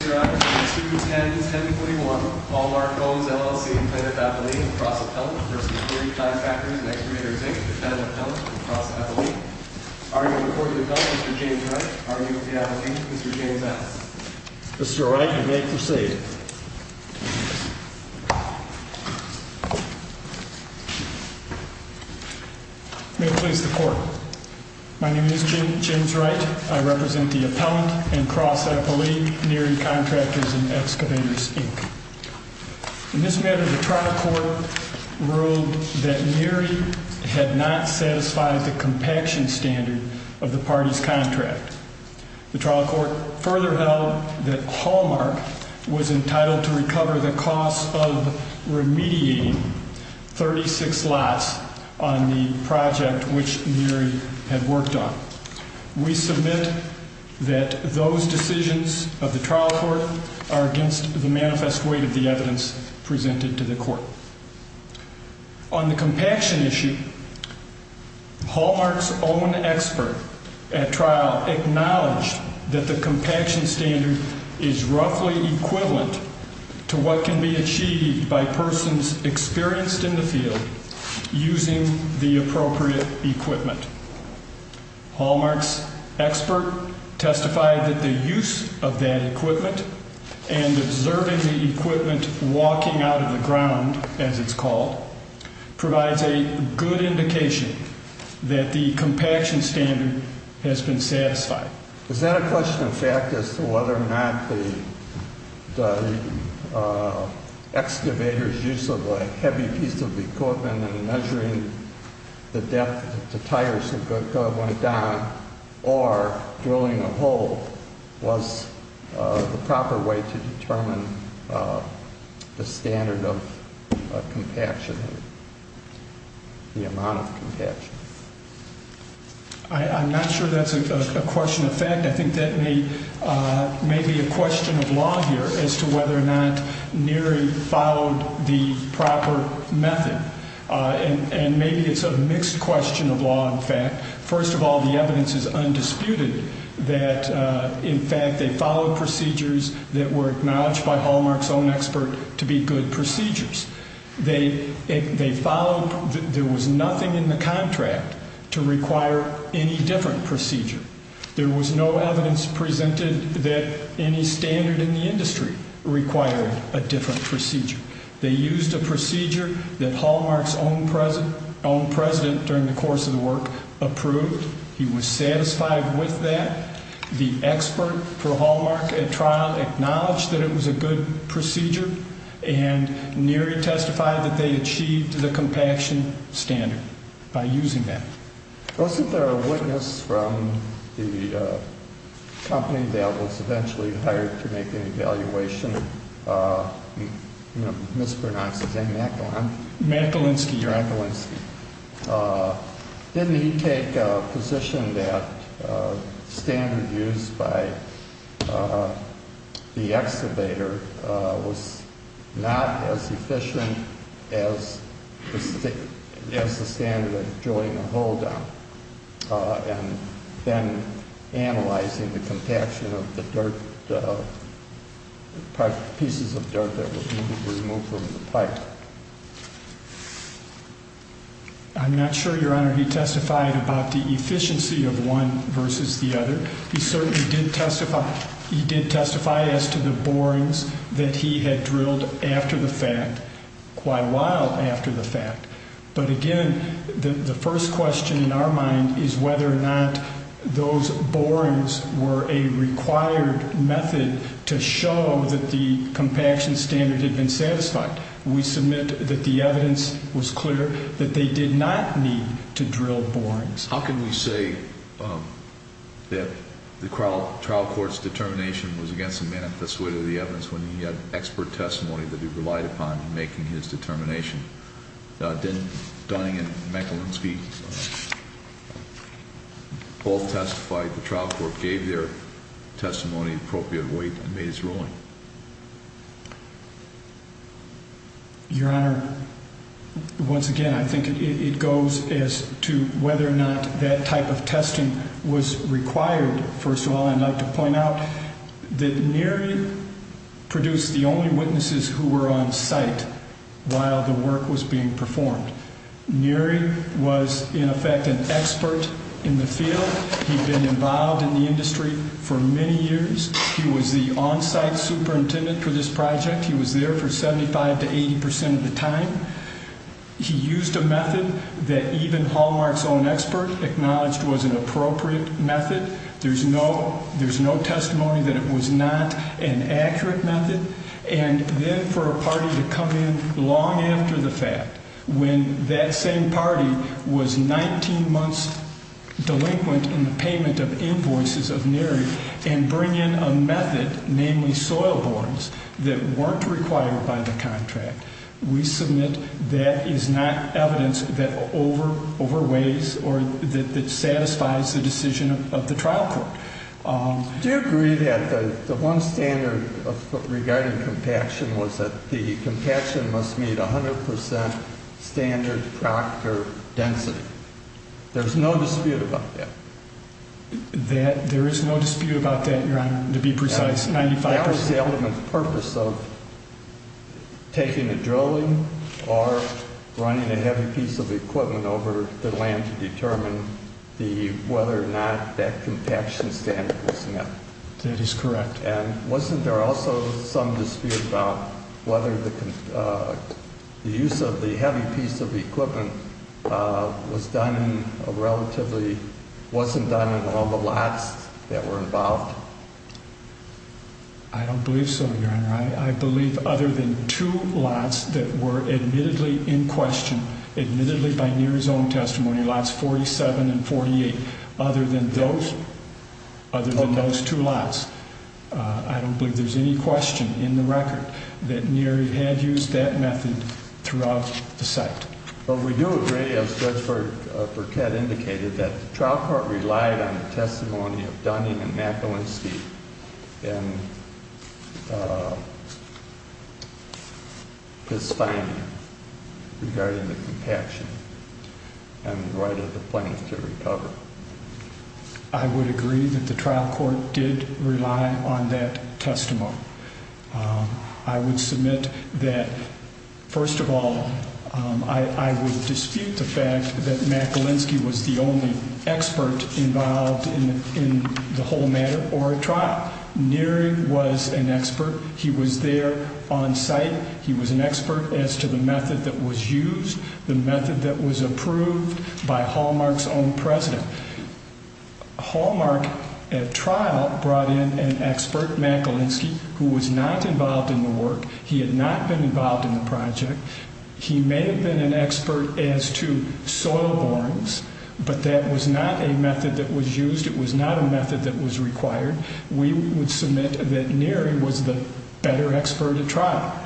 Mr. Wright, you may proceed. May it please the Court, My name is James Wright. I represent the appellant and cross-appellee Neri Contractors & Excavators, Inc. In this matter, the trial court ruled that Neri had not satisfied the compaction standard of the party's contract. The trial court further held that Hallmark was entitled to recover the cost of remediating 36 lots on the project which Neri had worked on. We submit that those decisions of the trial court are against the manifest weight of the evidence presented to the court. On the compaction issue, Hallmark's own expert at trial acknowledged that the compaction standard is roughly equivalent to what can be achieved by persons experienced in the field using the appropriate equipment. Hallmark's expert testified that the use of that equipment and observing the equipment walking out of the ground, as it's called, provides a good indication that the compaction standard has been satisfied. Is that a question of fact as to whether or not the excavator's use of a heavy piece of equipment and measuring the depth of the tires going down or drilling a hole was the proper way to determine the standard of compaction, the amount of compaction? I'm not sure that's a question of fact. I think that may be a question of law here as to whether or not Neri followed the proper method. And maybe it's a mixed question of law, in fact. First of all, the evidence is undisputed that, in fact, they followed procedures that were acknowledged by Hallmark's own expert to be good procedures. They followed – there was nothing in the contract to require any different procedure. There was no evidence presented that any standard in the industry required a different procedure. They used a procedure that Hallmark's own president during the course of the work approved. He was satisfied with that. The expert for Hallmark at trial acknowledged that it was a good procedure, and Neri testified that they achieved the compaction standard by using that. Wasn't there a witness from the company that was eventually hired to make an evaluation, mispronounced his name? Matt Galinsky, Your Honor. Matt Galinsky. Didn't he take a position that the standard used by the excavator was not as efficient as the standard of drilling a hole down, and then analyzing the compaction of the pieces of dirt that would need to be removed from the pipe? I'm not sure, Your Honor, he testified about the efficiency of one versus the other. He certainly did testify – he did testify as to the borings that he had drilled after the fact, quite a while after the fact. But, again, the first question in our mind is whether or not those borings were a required method to show that the compaction standard had been satisfied. We submit that the evidence was clear that they did not need to drill borings. How can we say that the trial court's determination was against the man at the suite of the evidence when he had expert testimony that he relied upon in making his determination? Dunning and Galinsky both testified. The trial court gave their testimony appropriate weight and made its ruling. Your Honor, once again, I think it goes as to whether or not that type of testing was required. First of all, I'd like to point out that Neary produced the only witnesses who were on site while the work was being performed. Neary was, in effect, an expert in the field. He'd been involved in the industry for many years. He was the on-site superintendent for this project. He was there for 75 to 80 percent of the time. He used a method that even Hallmark's own expert acknowledged was an appropriate method. There's no testimony that it was not an accurate method. And then for a party to come in long after the fact when that same party was 19 months delinquent in the payment of invoices of Neary and bring in a method, namely soil borings, that weren't required by the contract, we submit that is not evidence that overweighs or that satisfies the decision of the trial court. Do you agree that the one standard regarding compaction was that the compaction must meet 100 percent standard proctor density? There's no dispute about that. There is no dispute about that, Your Honor, to be precise. That was the ultimate purpose of taking a drilling or running a heavy piece of equipment over the land to determine whether or not that compaction standard was met. That is correct. And wasn't there also some dispute about whether the use of the heavy piece of equipment was done relatively, wasn't done in all the lots that were involved? I don't believe so, Your Honor. I believe other than two lots that were admittedly in question, admittedly by Neary's own testimony, lots 47 and 48, other than those two lots, I don't believe there's any question in the record that Neary had used that method throughout the site. But we do agree, as Judge Burkett indicated, that the trial court relied on the testimony of Dunning and McElwain Steed in his finding regarding the compaction and the right of the plaintiff to recover. I would agree that the trial court did rely on that testimony. I would submit that, first of all, I would dispute the fact that McElwain Steed was the only expert involved in the whole matter or a trial. Neary was an expert. He was there on site. He was an expert as to the method that was used, the method that was approved by Hallmark's own president. Hallmark, at trial, brought in an expert, McElwain Steed, who was not involved in the work. He had not been involved in the project. He may have been an expert as to soil borings, but that was not a method that was used. It was not a method that was required. We would submit that Neary was the better expert at trial.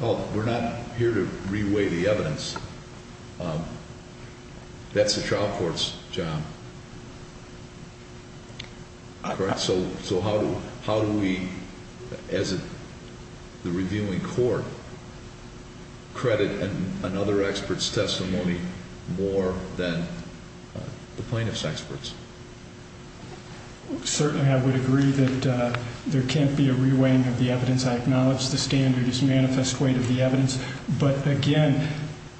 Well, we're not here to reweigh the evidence. That's the trial court's job. Correct? So how do we, as the reviewing court, credit another expert's testimony more than the plaintiff's experts? Certainly, I would agree that there can't be a reweighing of the evidence. I acknowledge the standard is manifest weight of the evidence. But, again,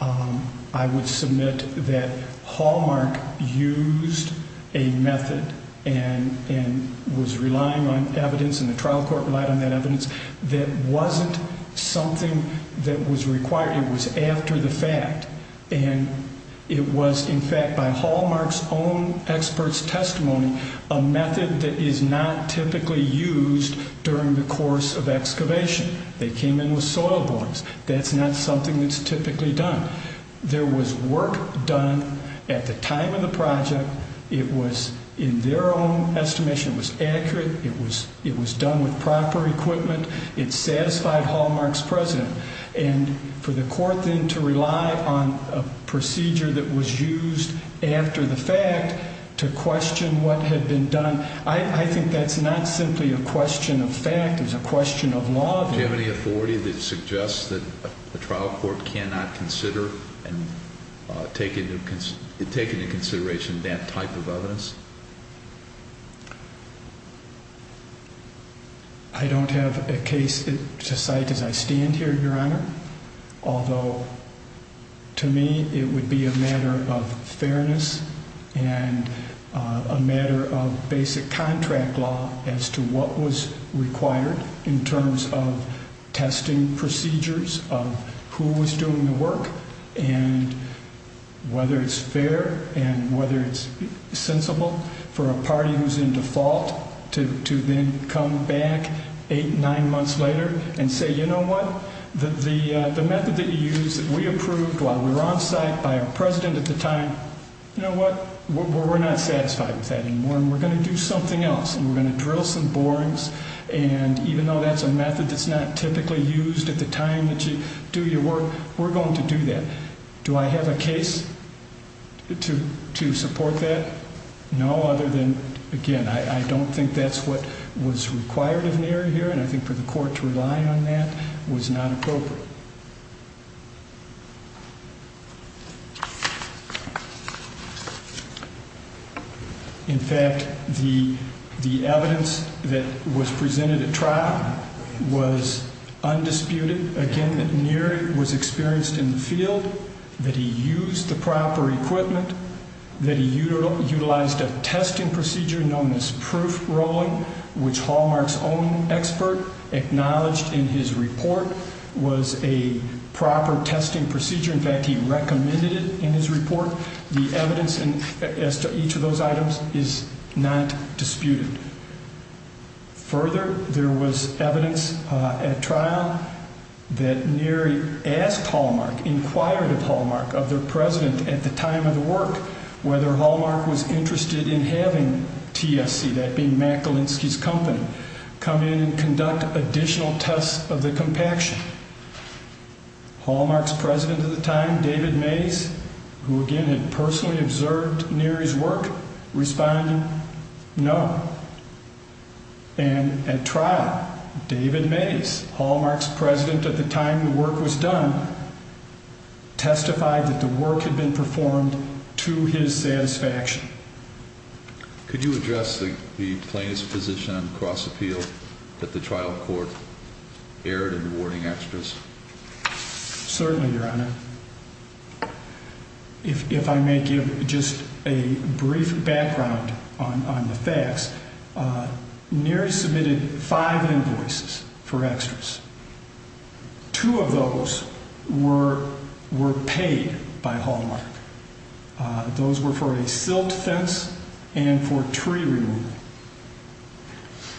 I would submit that Hallmark used a method and was relying on evidence, and the trial court relied on that evidence, that wasn't something that was required. It was after the fact. And it was, in fact, by Hallmark's own expert's testimony, a method that is not typically used during the course of excavation. They came in with soil borings. That's not something that's typically done. There was work done at the time of the project. It was, in their own estimation, it was accurate. It was done with proper equipment. It satisfied Hallmark's precedent. And for the court, then, to rely on a procedure that was used after the fact to question what had been done, I think that's not simply a question of fact. It's a question of law. Do you have any authority that suggests that a trial court cannot consider and take into consideration that type of evidence? I don't have a case to cite as I stand here, Your Honor, although to me it would be a matter of fairness and a matter of basic contract law as to what was required in terms of testing procedures, of who was doing the work, and whether it's fair and whether it's sensible for a party who's in default to then come back eight, nine months later and say, you know what, the method that you used that we approved while we were on site by our president at the time, you know what, we're not satisfied with that anymore, and we're going to do something else, and we're going to drill some borings, and even though that's a method that's not typically used at the time that you do your work, we're going to do that. Do I have a case to support that? No, other than, again, I don't think that's what was required of an area here, and I think for the court to rely on that was not appropriate. In fact, the evidence that was presented at trial was undisputed. Again, Neary was experienced in the field, that he used the proper equipment, that he utilized a testing procedure known as proof rolling, which Hallmark's own expert acknowledged in his report was a proper testing procedure. In fact, he recommended it in his report. The evidence as to each of those items is not disputed. Further, there was evidence at trial that Neary asked Hallmark, inquired of Hallmark, of their president at the time of the work, whether Hallmark was interested in having TSC, that being Mackalinski's company, come in and conduct additional tests of the compaction. Hallmark's president at the time, David Mays, who again had personally observed Neary's work, responded no. And at trial, David Mays, Hallmark's president at the time the work was done, testified that the work had been performed to his satisfaction. Could you address the plaintiff's position on cross appeal that the trial court erred in awarding extras? Certainly, Your Honor. If I may give just a brief background on the facts, Neary submitted five invoices for extras. Two of those were paid by Hallmark. Those were for a silt fence and for tree removal.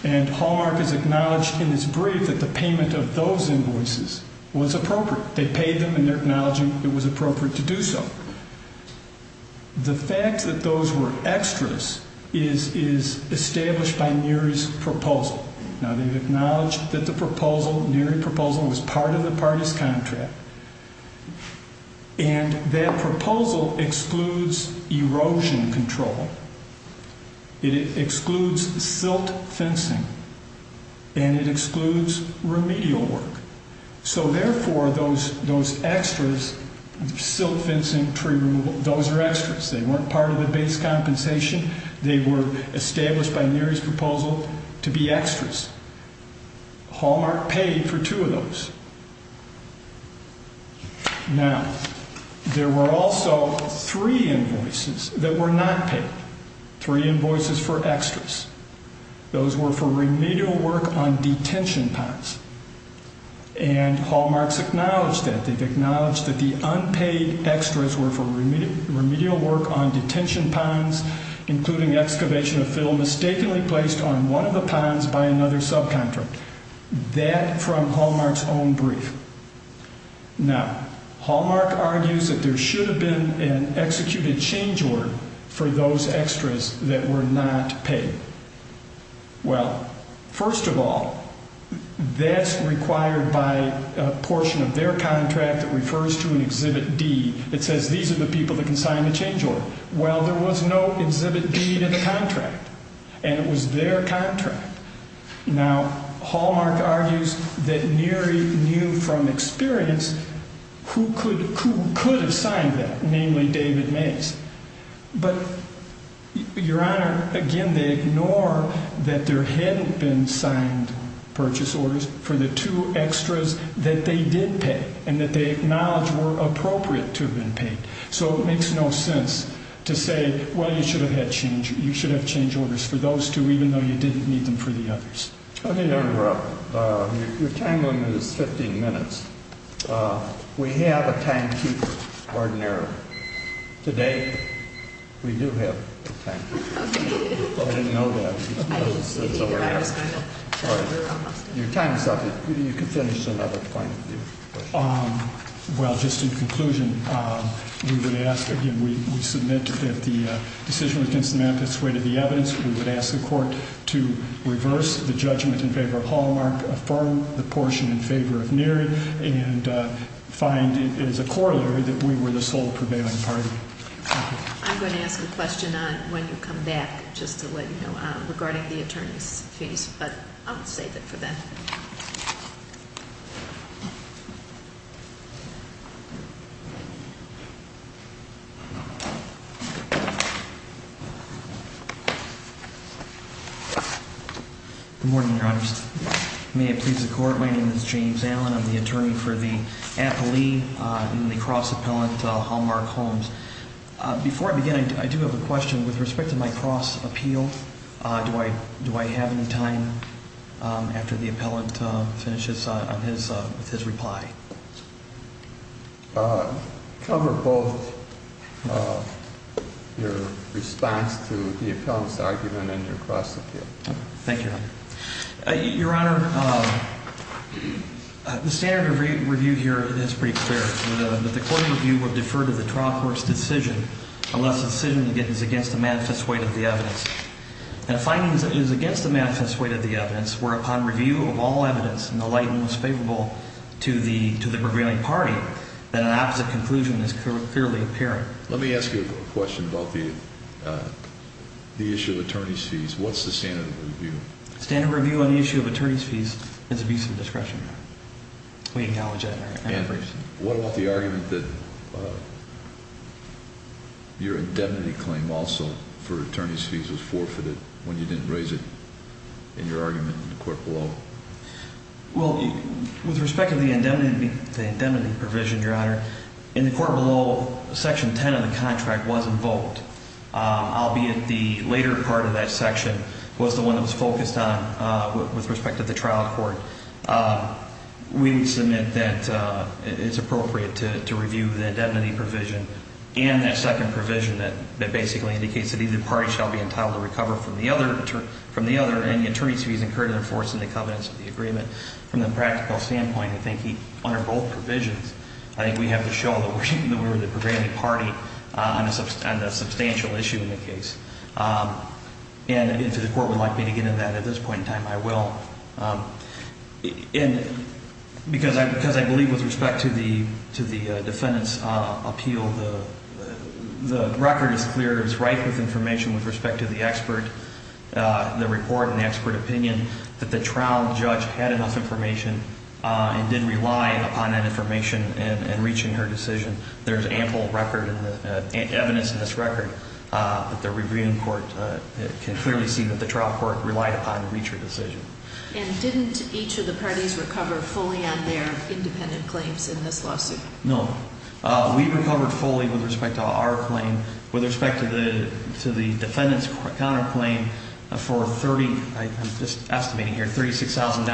And Hallmark has acknowledged in its brief that the payment of those invoices was appropriate. They paid them and they're acknowledging it was appropriate to do so. The fact that those were extras is established by Neary's proposal. Now, they've acknowledged that the proposal, Neary's proposal, was part of the party's contract. And that proposal excludes erosion control. It excludes silt fencing and it excludes remedial work. So, therefore, those extras, silt fencing, tree removal, those are extras. They weren't part of the base compensation. They were established by Neary's proposal to be extras. Hallmark paid for two of those. Now, there were also three invoices that were not paid, three invoices for extras. Those were for remedial work on detention ponds. And Hallmark's acknowledged that. They've acknowledged that the unpaid extras were for remedial work on detention ponds, including excavation of fill mistakenly placed on one of the ponds by another subcontract. That from Hallmark's own brief. Now, Hallmark argues that there should have been an executed change order for those extras that were not paid. Well, first of all, that's required by a portion of their contract that refers to an Exhibit D. It says these are the people that can sign the change order. Well, there was no Exhibit D to the contract. And it was their contract. Now, Hallmark argues that Neary knew from experience who could have signed that, namely David Mays. But, Your Honor, again, they ignore that there hadn't been signed purchase orders for the two extras that they did pay and that they acknowledge were appropriate to have been paid. So it makes no sense to say, well, you should have had change. Orders for those two, even though you didn't need them for the others. Your time limit is 15 minutes. We have a timekeeper, ordinary. Today, we do have a timekeeper. I didn't know that. Your time is up. You can finish another point. Well, just in conclusion, we would ask again, we submit that the decision against the manifest way to the evidence. We would ask the court to reverse the judgment in favor of Hallmark, affirm the portion in favor of Neary, and find it as a corollary that we were the sole prevailing party. I'm going to ask a question on when you come back, just to let you know, regarding the attorney's fees. But I'll save it for then. Good morning, Your Honor. May it please the court, my name is James Allen. I'm the attorney for the appellee in the cross-appellant Hallmark Holmes. Before I begin, I do have a question. With respect to my cross-appeal, do I have any time after the appellant finishes with his reply? Cover both your response to the appellant's argument and your cross-appeal. Thank you, Your Honor. Your Honor, the standard of review here is pretty clear. The court review would defer to the trial court's decision unless the decision is against the manifest way to the evidence. The finding is that it is against the manifest way to the evidence, whereupon review of all evidence in the light and most favorable to the prevailing party, that an opposite conclusion is clearly apparent. Let me ask you a question about the issue of attorney's fees. What's the standard of review? Standard of review on the issue of attorney's fees is abuse of discretion. We acknowledge that, Your Honor. When you didn't raise it in your argument in the court below? Well, with respect to the indemnity provision, Your Honor, in the court below, section 10 of the contract wasn't voked, albeit the later part of that section was the one that was focused on with respect to the trial court. We would submit that it's appropriate to review the indemnity provision and that second provision that basically indicates that either party shall be entitled to recover from the other any attorney's fees incurred under force in the covenants of the agreement. From the practical standpoint, I think under both provisions, I think we have to show that we're the prevailing party on a substantial issue in the case. And if the court would like me to get into that at this point in time, I will. And because I believe with respect to the defendant's appeal, the record is clear. It's right with information with respect to the expert, the report and the expert opinion that the trial judge had enough information and did rely upon that information in reaching her decision. There's ample record and evidence in this record that the reviewing court can clearly see that the trial court relied upon to reach her decision. And didn't each of the parties recover fully on their independent claims in this lawsuit? No. We recovered fully with respect to our claim. With respect to the defendant's counterclaim, for 30, I'm just estimating here, $36,000,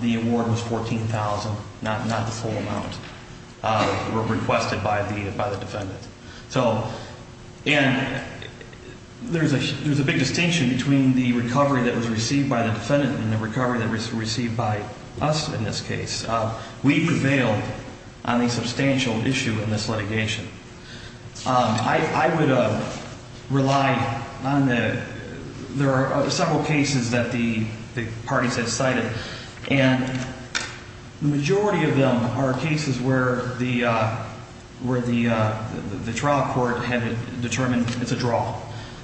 the award was $14,000, not the full amount. It was requested by the defendant. And there's a big distinction between the recovery that was received by the defendant and the recovery that was received by us in this case. We prevailed on a substantial issue in this litigation. I would rely on the – there are several cases that the parties have cited. And the majority of them are cases where the trial court had determined it's a draw.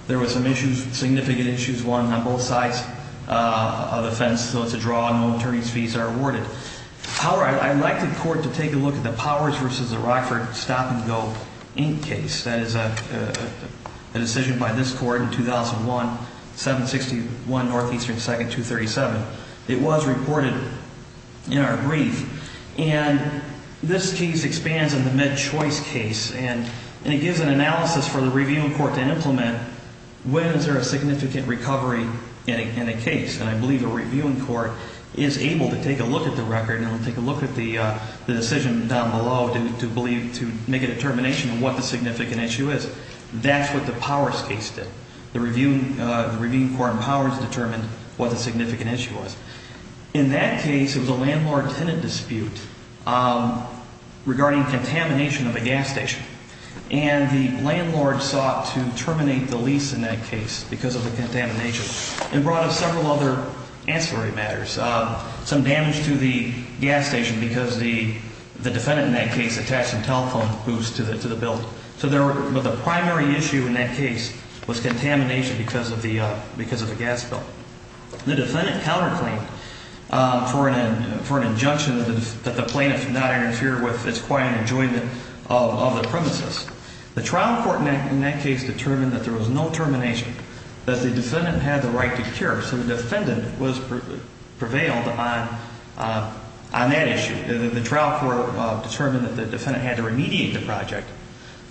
There were some issues, significant issues, one on both sides of the fence, so it's a draw. No attorney's fees are awarded. However, I'd like the court to take a look at the Powers v. Rockford Stop and Go Inc. case. That is a decision by this court in 2001, 761 Northeastern 2nd, 237. It was reported in our brief. And this case expands on the Med Choice case. And it gives an analysis for the reviewing court to implement when is there a significant recovery in a case. And I believe a reviewing court is able to take a look at the record and take a look at the decision down below to make a determination of what the significant issue is. That's what the Powers case did. The reviewing court in Powers determined what the significant issue was. In that case, it was a landlord-tenant dispute regarding contamination of a gas station. And the landlord sought to terminate the lease in that case because of the contamination and brought up several other ancillary matters, some damage to the gas station because the defendant in that case attached a telephone boost to the bill. But the primary issue in that case was contamination because of the gas bill. The defendant counterclaimed for an injunction that the plaintiff should not interfere with his quiet enjoyment of the premises. The trial court in that case determined that there was no termination, that the defendant had the right to cure. So the defendant prevailed on that issue. The trial court determined that the defendant had to remediate the project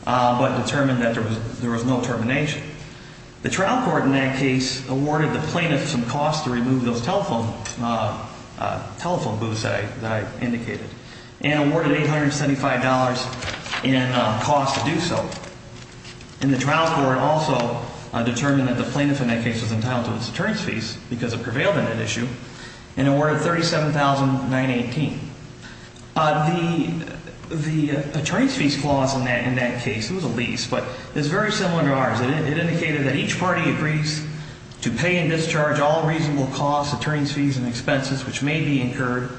but determined that there was no termination. The trial court in that case awarded the plaintiff some costs to remove those telephone boosts that I indicated and awarded $875 in costs to do so. And the trial court also determined that the plaintiff in that case was entitled to its deterrence fees because it prevailed on that issue and awarded $37,918. The deterrence fees clause in that case, it was a lease, but it's very similar to ours. It indicated that each party agrees to pay and discharge all reasonable costs, deterrence fees, and expenses which may be incurred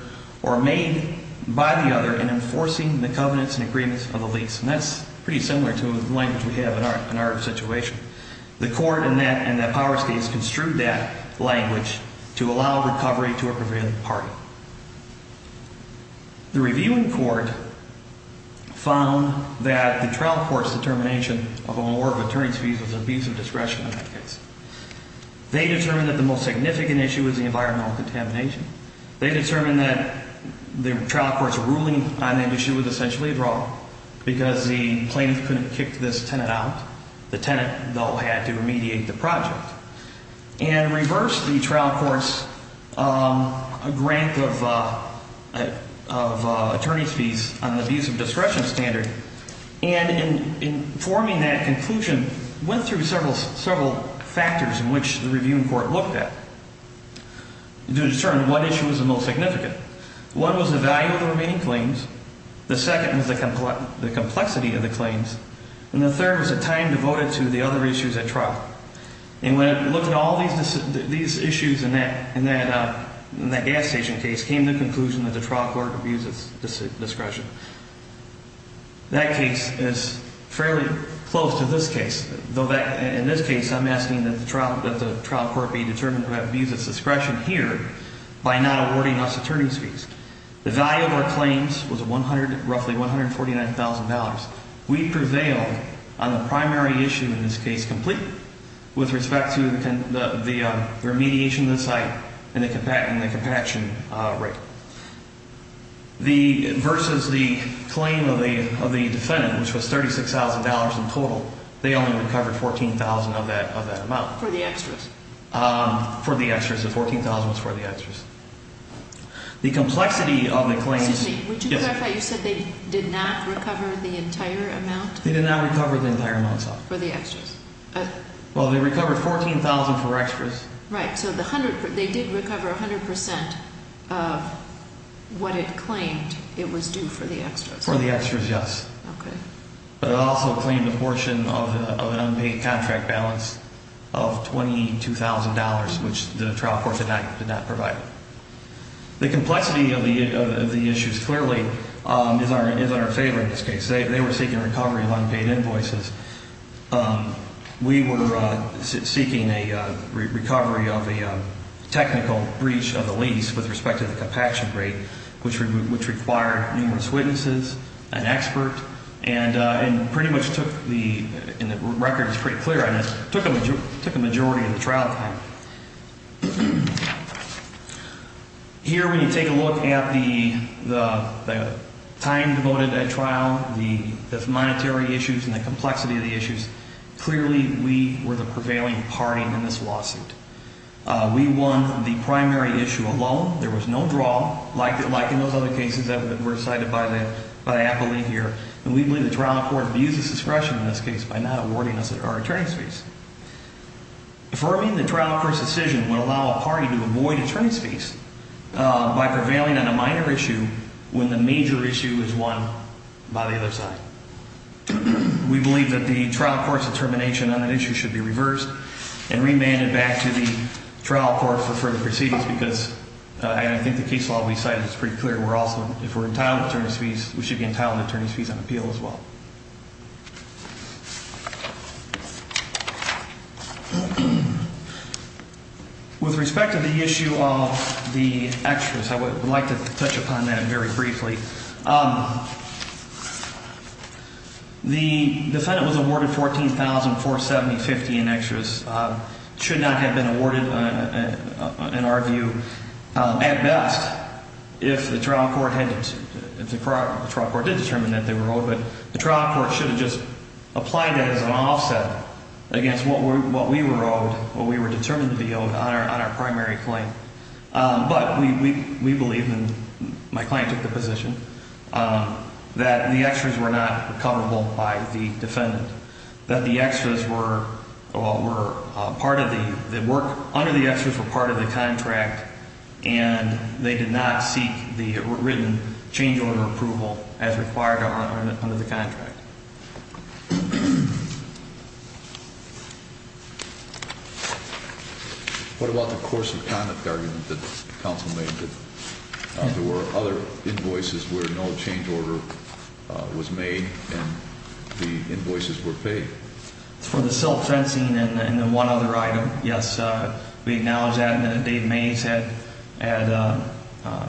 or made by the other in enforcing the covenants and agreements of the lease. And that's pretty similar to the language we have in our situation. The court in that power case construed that language to allow recovery to a prevailing party. The reviewing court found that the trial court's determination of an award of deterrence fees was an abuse of discretion in that case. They determined that the most significant issue was the environmental contamination. They determined that the trial court's ruling on the issue was essentially wrong because the plaintiff couldn't kick this tenant out. The tenant, though, had to remediate the project and reversed the trial court's grant of attorney's fees on the abuse of discretion standard and in forming that conclusion went through several factors in which the reviewing court looked at to determine what issue was the most significant. One was the value of the remaining claims. The second was the complexity of the claims. And the third was the time devoted to the other issues at trial. And when it looked at all these issues in that gas station case came to the conclusion that the trial court abused its discretion. That case is fairly close to this case. In this case I'm asking that the trial court be determined to abuse its discretion here by not awarding us attorney's fees. The value of our claims was roughly $149,000. We prevailed on the primary issue in this case completely with respect to the remediation of the site and the compaction rate. Versus the claim of the defendant, which was $36,000 in total, they only recovered $14,000 of that amount. For the extras. For the extras. The $14,000 was for the extras. The complexity of the claims. Excuse me, would you clarify, you said they did not recover the entire amount? They did not recover the entire amount. For the extras. Well, they recovered $14,000 for extras. Right, so they did recover 100% of what it claimed it was due for the extras. For the extras, yes. Okay. But it also claimed a portion of an unpaid contract balance of $22,000, which the trial court did not provide. The complexity of the issues clearly is in our favor in this case. They were seeking recovery of unpaid invoices. We were seeking a recovery of a technical breach of the lease with respect to the compaction rate, which required numerous witnesses, an expert, and pretty much took the, and the record is pretty clear on this, took a majority of the trial time. Here when you take a look at the time devoted at trial, the monetary issues and the complexity of the issues, clearly we were the prevailing party in this lawsuit. We won the primary issue alone. There was no draw, like in those other cases that were cited by the appellee here, and we believe the trial court abused its discretion in this case by not awarding us our attorney's fees. Affirming the trial court's decision would allow a party to avoid attorney's fees by prevailing on a minor issue when the major issue is won by the other side. We believe that the trial court's determination on an issue should be reversed and remanded back to the trial court for further proceedings because I think the case law we cited is pretty clear. We're also, if we're entitled to attorney's fees, we should be entitled to attorney's fees on appeal as well. With respect to the issue of the extras, I would like to touch upon that very briefly. The defendant was awarded $14,470.50 in extras. Extras should not have been awarded, in our view, at best, if the trial court did determine that they were owed, but the trial court should have just applied that as an offset against what we were owed, what we were determined to be owed on our primary claim. But we believe, and my client took the position, that the extras were not coverable by the defendant, that the extras were part of the – that work under the extras were part of the contract and they did not seek the written change order approval as required under the contract. What about the course of conduct argument that counsel made that there were other invoices where no change order was made and the invoices were paid? For the silk fencing and the one other item, yes, we acknowledge that. And Dave Mays had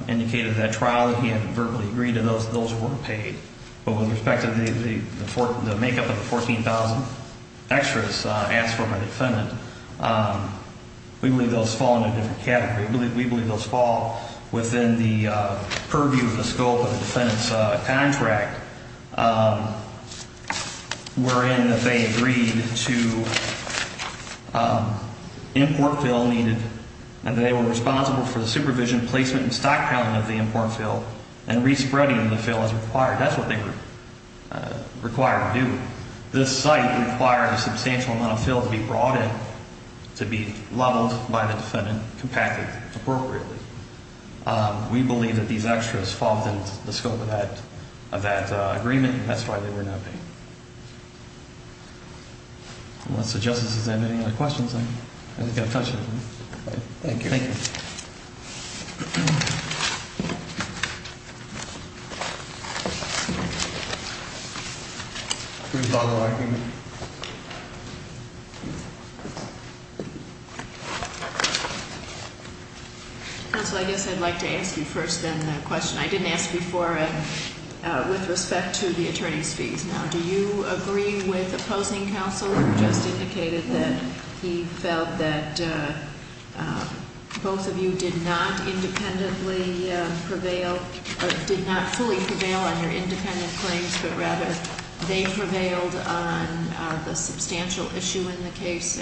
indicated at trial that he had verbally agreed to those that were paid. But with respect to the make-up of the $14,000 extras asked for by the defendant, we believe those fall into a different category. We believe those fall within the purview of the scope of the defendant's contract wherein they agreed to import fill needed and they were responsible for the supervision, placement, and stockpiling of the import fill and re-spreading the fill as required. That's what they require to do. This site requires a substantial amount of fill to be brought in to be leveled by the defendant, compacted appropriately. We believe that these extras fall within the scope of that agreement and that's why they were not paid. Unless the justice has any other questions, I think I'll touch it. Thank you. Thank you. Counsel, I guess I'd like to ask you first then the question. I didn't ask before with respect to the attorney's fees. Now, do you agree with opposing counsel who just indicated that he felt that both of you did not independently prevail, did not fully prevail on your independent claims, but rather they prevailed on the substantial issue in the case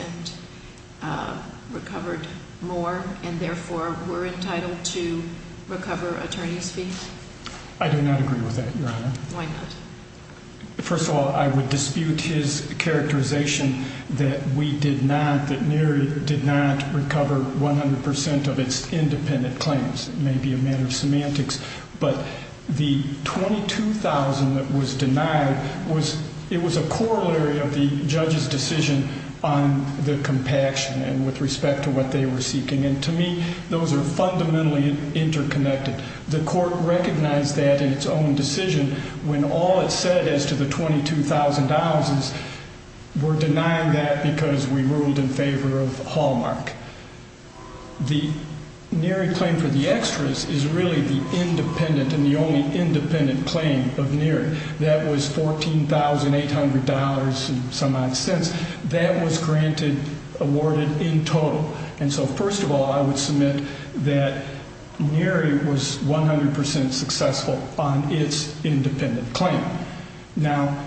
and recovered more and therefore were entitled to recover attorney's fees? I do not agree with that, Your Honor. Why not? First of all, I would dispute his characterization that we did not, that NERI did not recover 100% of its independent claims. It may be a matter of semantics, but the $22,000 that was denied, it was a corollary of the judge's decision on the compaction and with respect to what they were seeking. And to me, those are fundamentally interconnected. The court recognized that in its own decision when all it said as to the $22,000, we're denying that because we ruled in favor of Hallmark. The NERI claim for the extras is really the independent and the only independent claim of NERI. That was $14,800 and some odd cents. That was granted, awarded in total. And so first of all, I would submit that NERI was 100% successful on its independent claim. Now,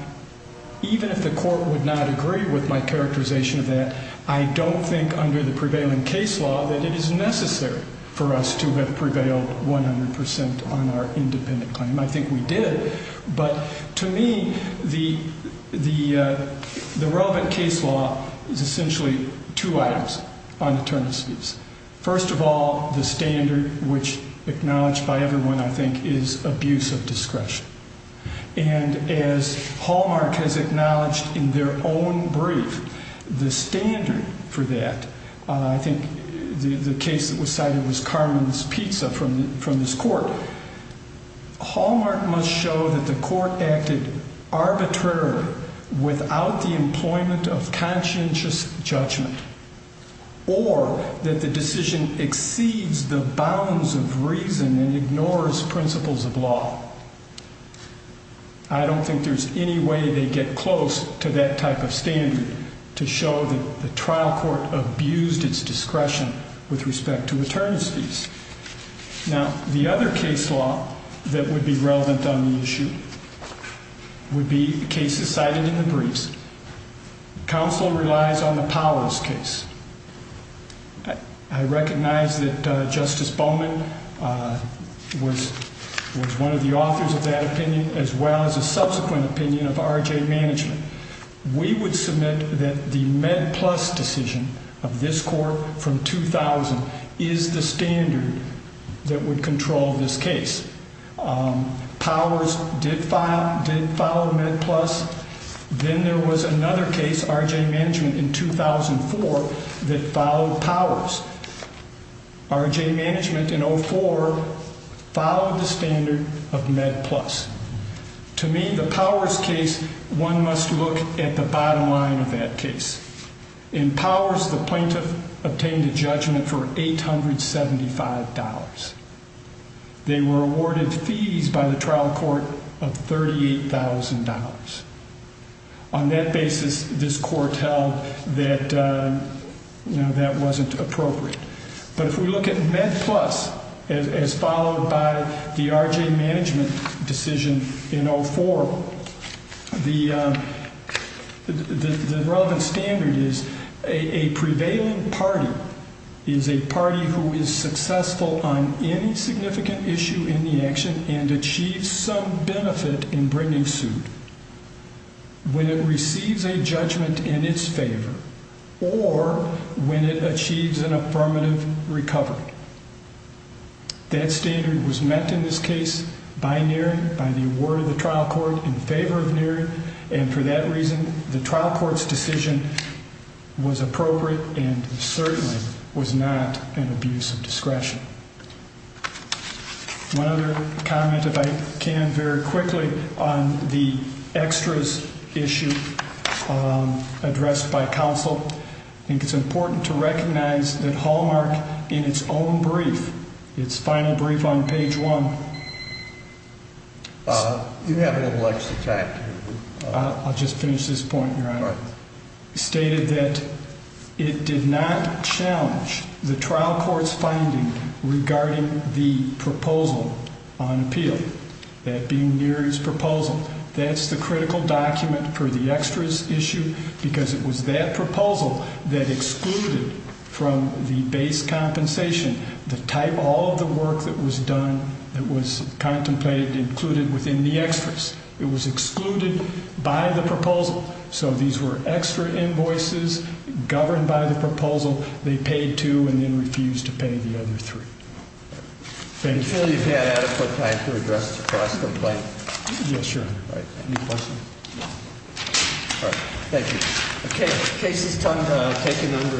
even if the court would not agree with my characterization of that, I don't think under the prevailing case law that it is necessary for us to have prevailed 100% on our independent claim. I think we did. But to me, the relevant case law is essentially two items on attorneys' fees. First of all, the standard, which acknowledged by everyone, I think, is abuse of discretion. And as Hallmark has acknowledged in their own brief, the standard for that, I think the case that was cited was Carmen's Pizza from this court. Hallmark must show that the court acted arbitrarily without the employment of conscientious judgment or that the decision exceeds the bounds of reason and ignores principles of law. I don't think there's any way they get close to that type of standard to show that the trial court abused its discretion with respect to attorneys' fees. Now, the other case law that would be relevant on the issue would be cases cited in the briefs. Counsel relies on the Powell's case. I recognize that Justice Bowman was one of the authors of that opinion, as well as a subsequent opinion of R.J. Management. We would submit that the MedPlus decision of this court from 2000 is the standard that would control this case. Powers did follow MedPlus. Then there was another case, R.J. Management in 2004, that followed Powers. R.J. Management in 2004 followed the standard of MedPlus. To me, the Powers case, one must look at the bottom line of that case. In Powers, the plaintiff obtained a judgment for $875. They were awarded fees by the trial court of $38,000. On that basis, this court held that that wasn't appropriate. But if we look at MedPlus, as followed by the R.J. Management decision in 2004, the relevant standard is a prevailing party is a party who is successful on any significant issue in the action and achieves some benefit in bringing suit when it receives a judgment in its favor or when it achieves an affirmative recovery. That standard was met in this case by Neary, by the award of the trial court in favor of Neary. And for that reason, the trial court's decision was appropriate and certainly was not an abuse of discretion. One other comment, if I can, very quickly on the extras issue addressed by counsel. I think it's important to recognize that Hallmark, in its own brief, its final brief on page one. You have a little extra time. I'll just finish this point, Your Honor. Hallmark stated that it did not challenge the trial court's finding regarding the proposal on appeal, that being Neary's proposal. That's the critical document for the extras issue because it was that proposal that excluded from the base compensation the type of all of the work that was done, that was contemplated and included within the extras. It was excluded by the proposal. So these were extra invoices governed by the proposal. They paid two and then refused to pay the other three. Thank you. Do you feel you've had adequate time to address the cross-complaint? Yes, Your Honor. All right. Any questions? No. All right. Thank you. Okay. Case is taken under five minutes.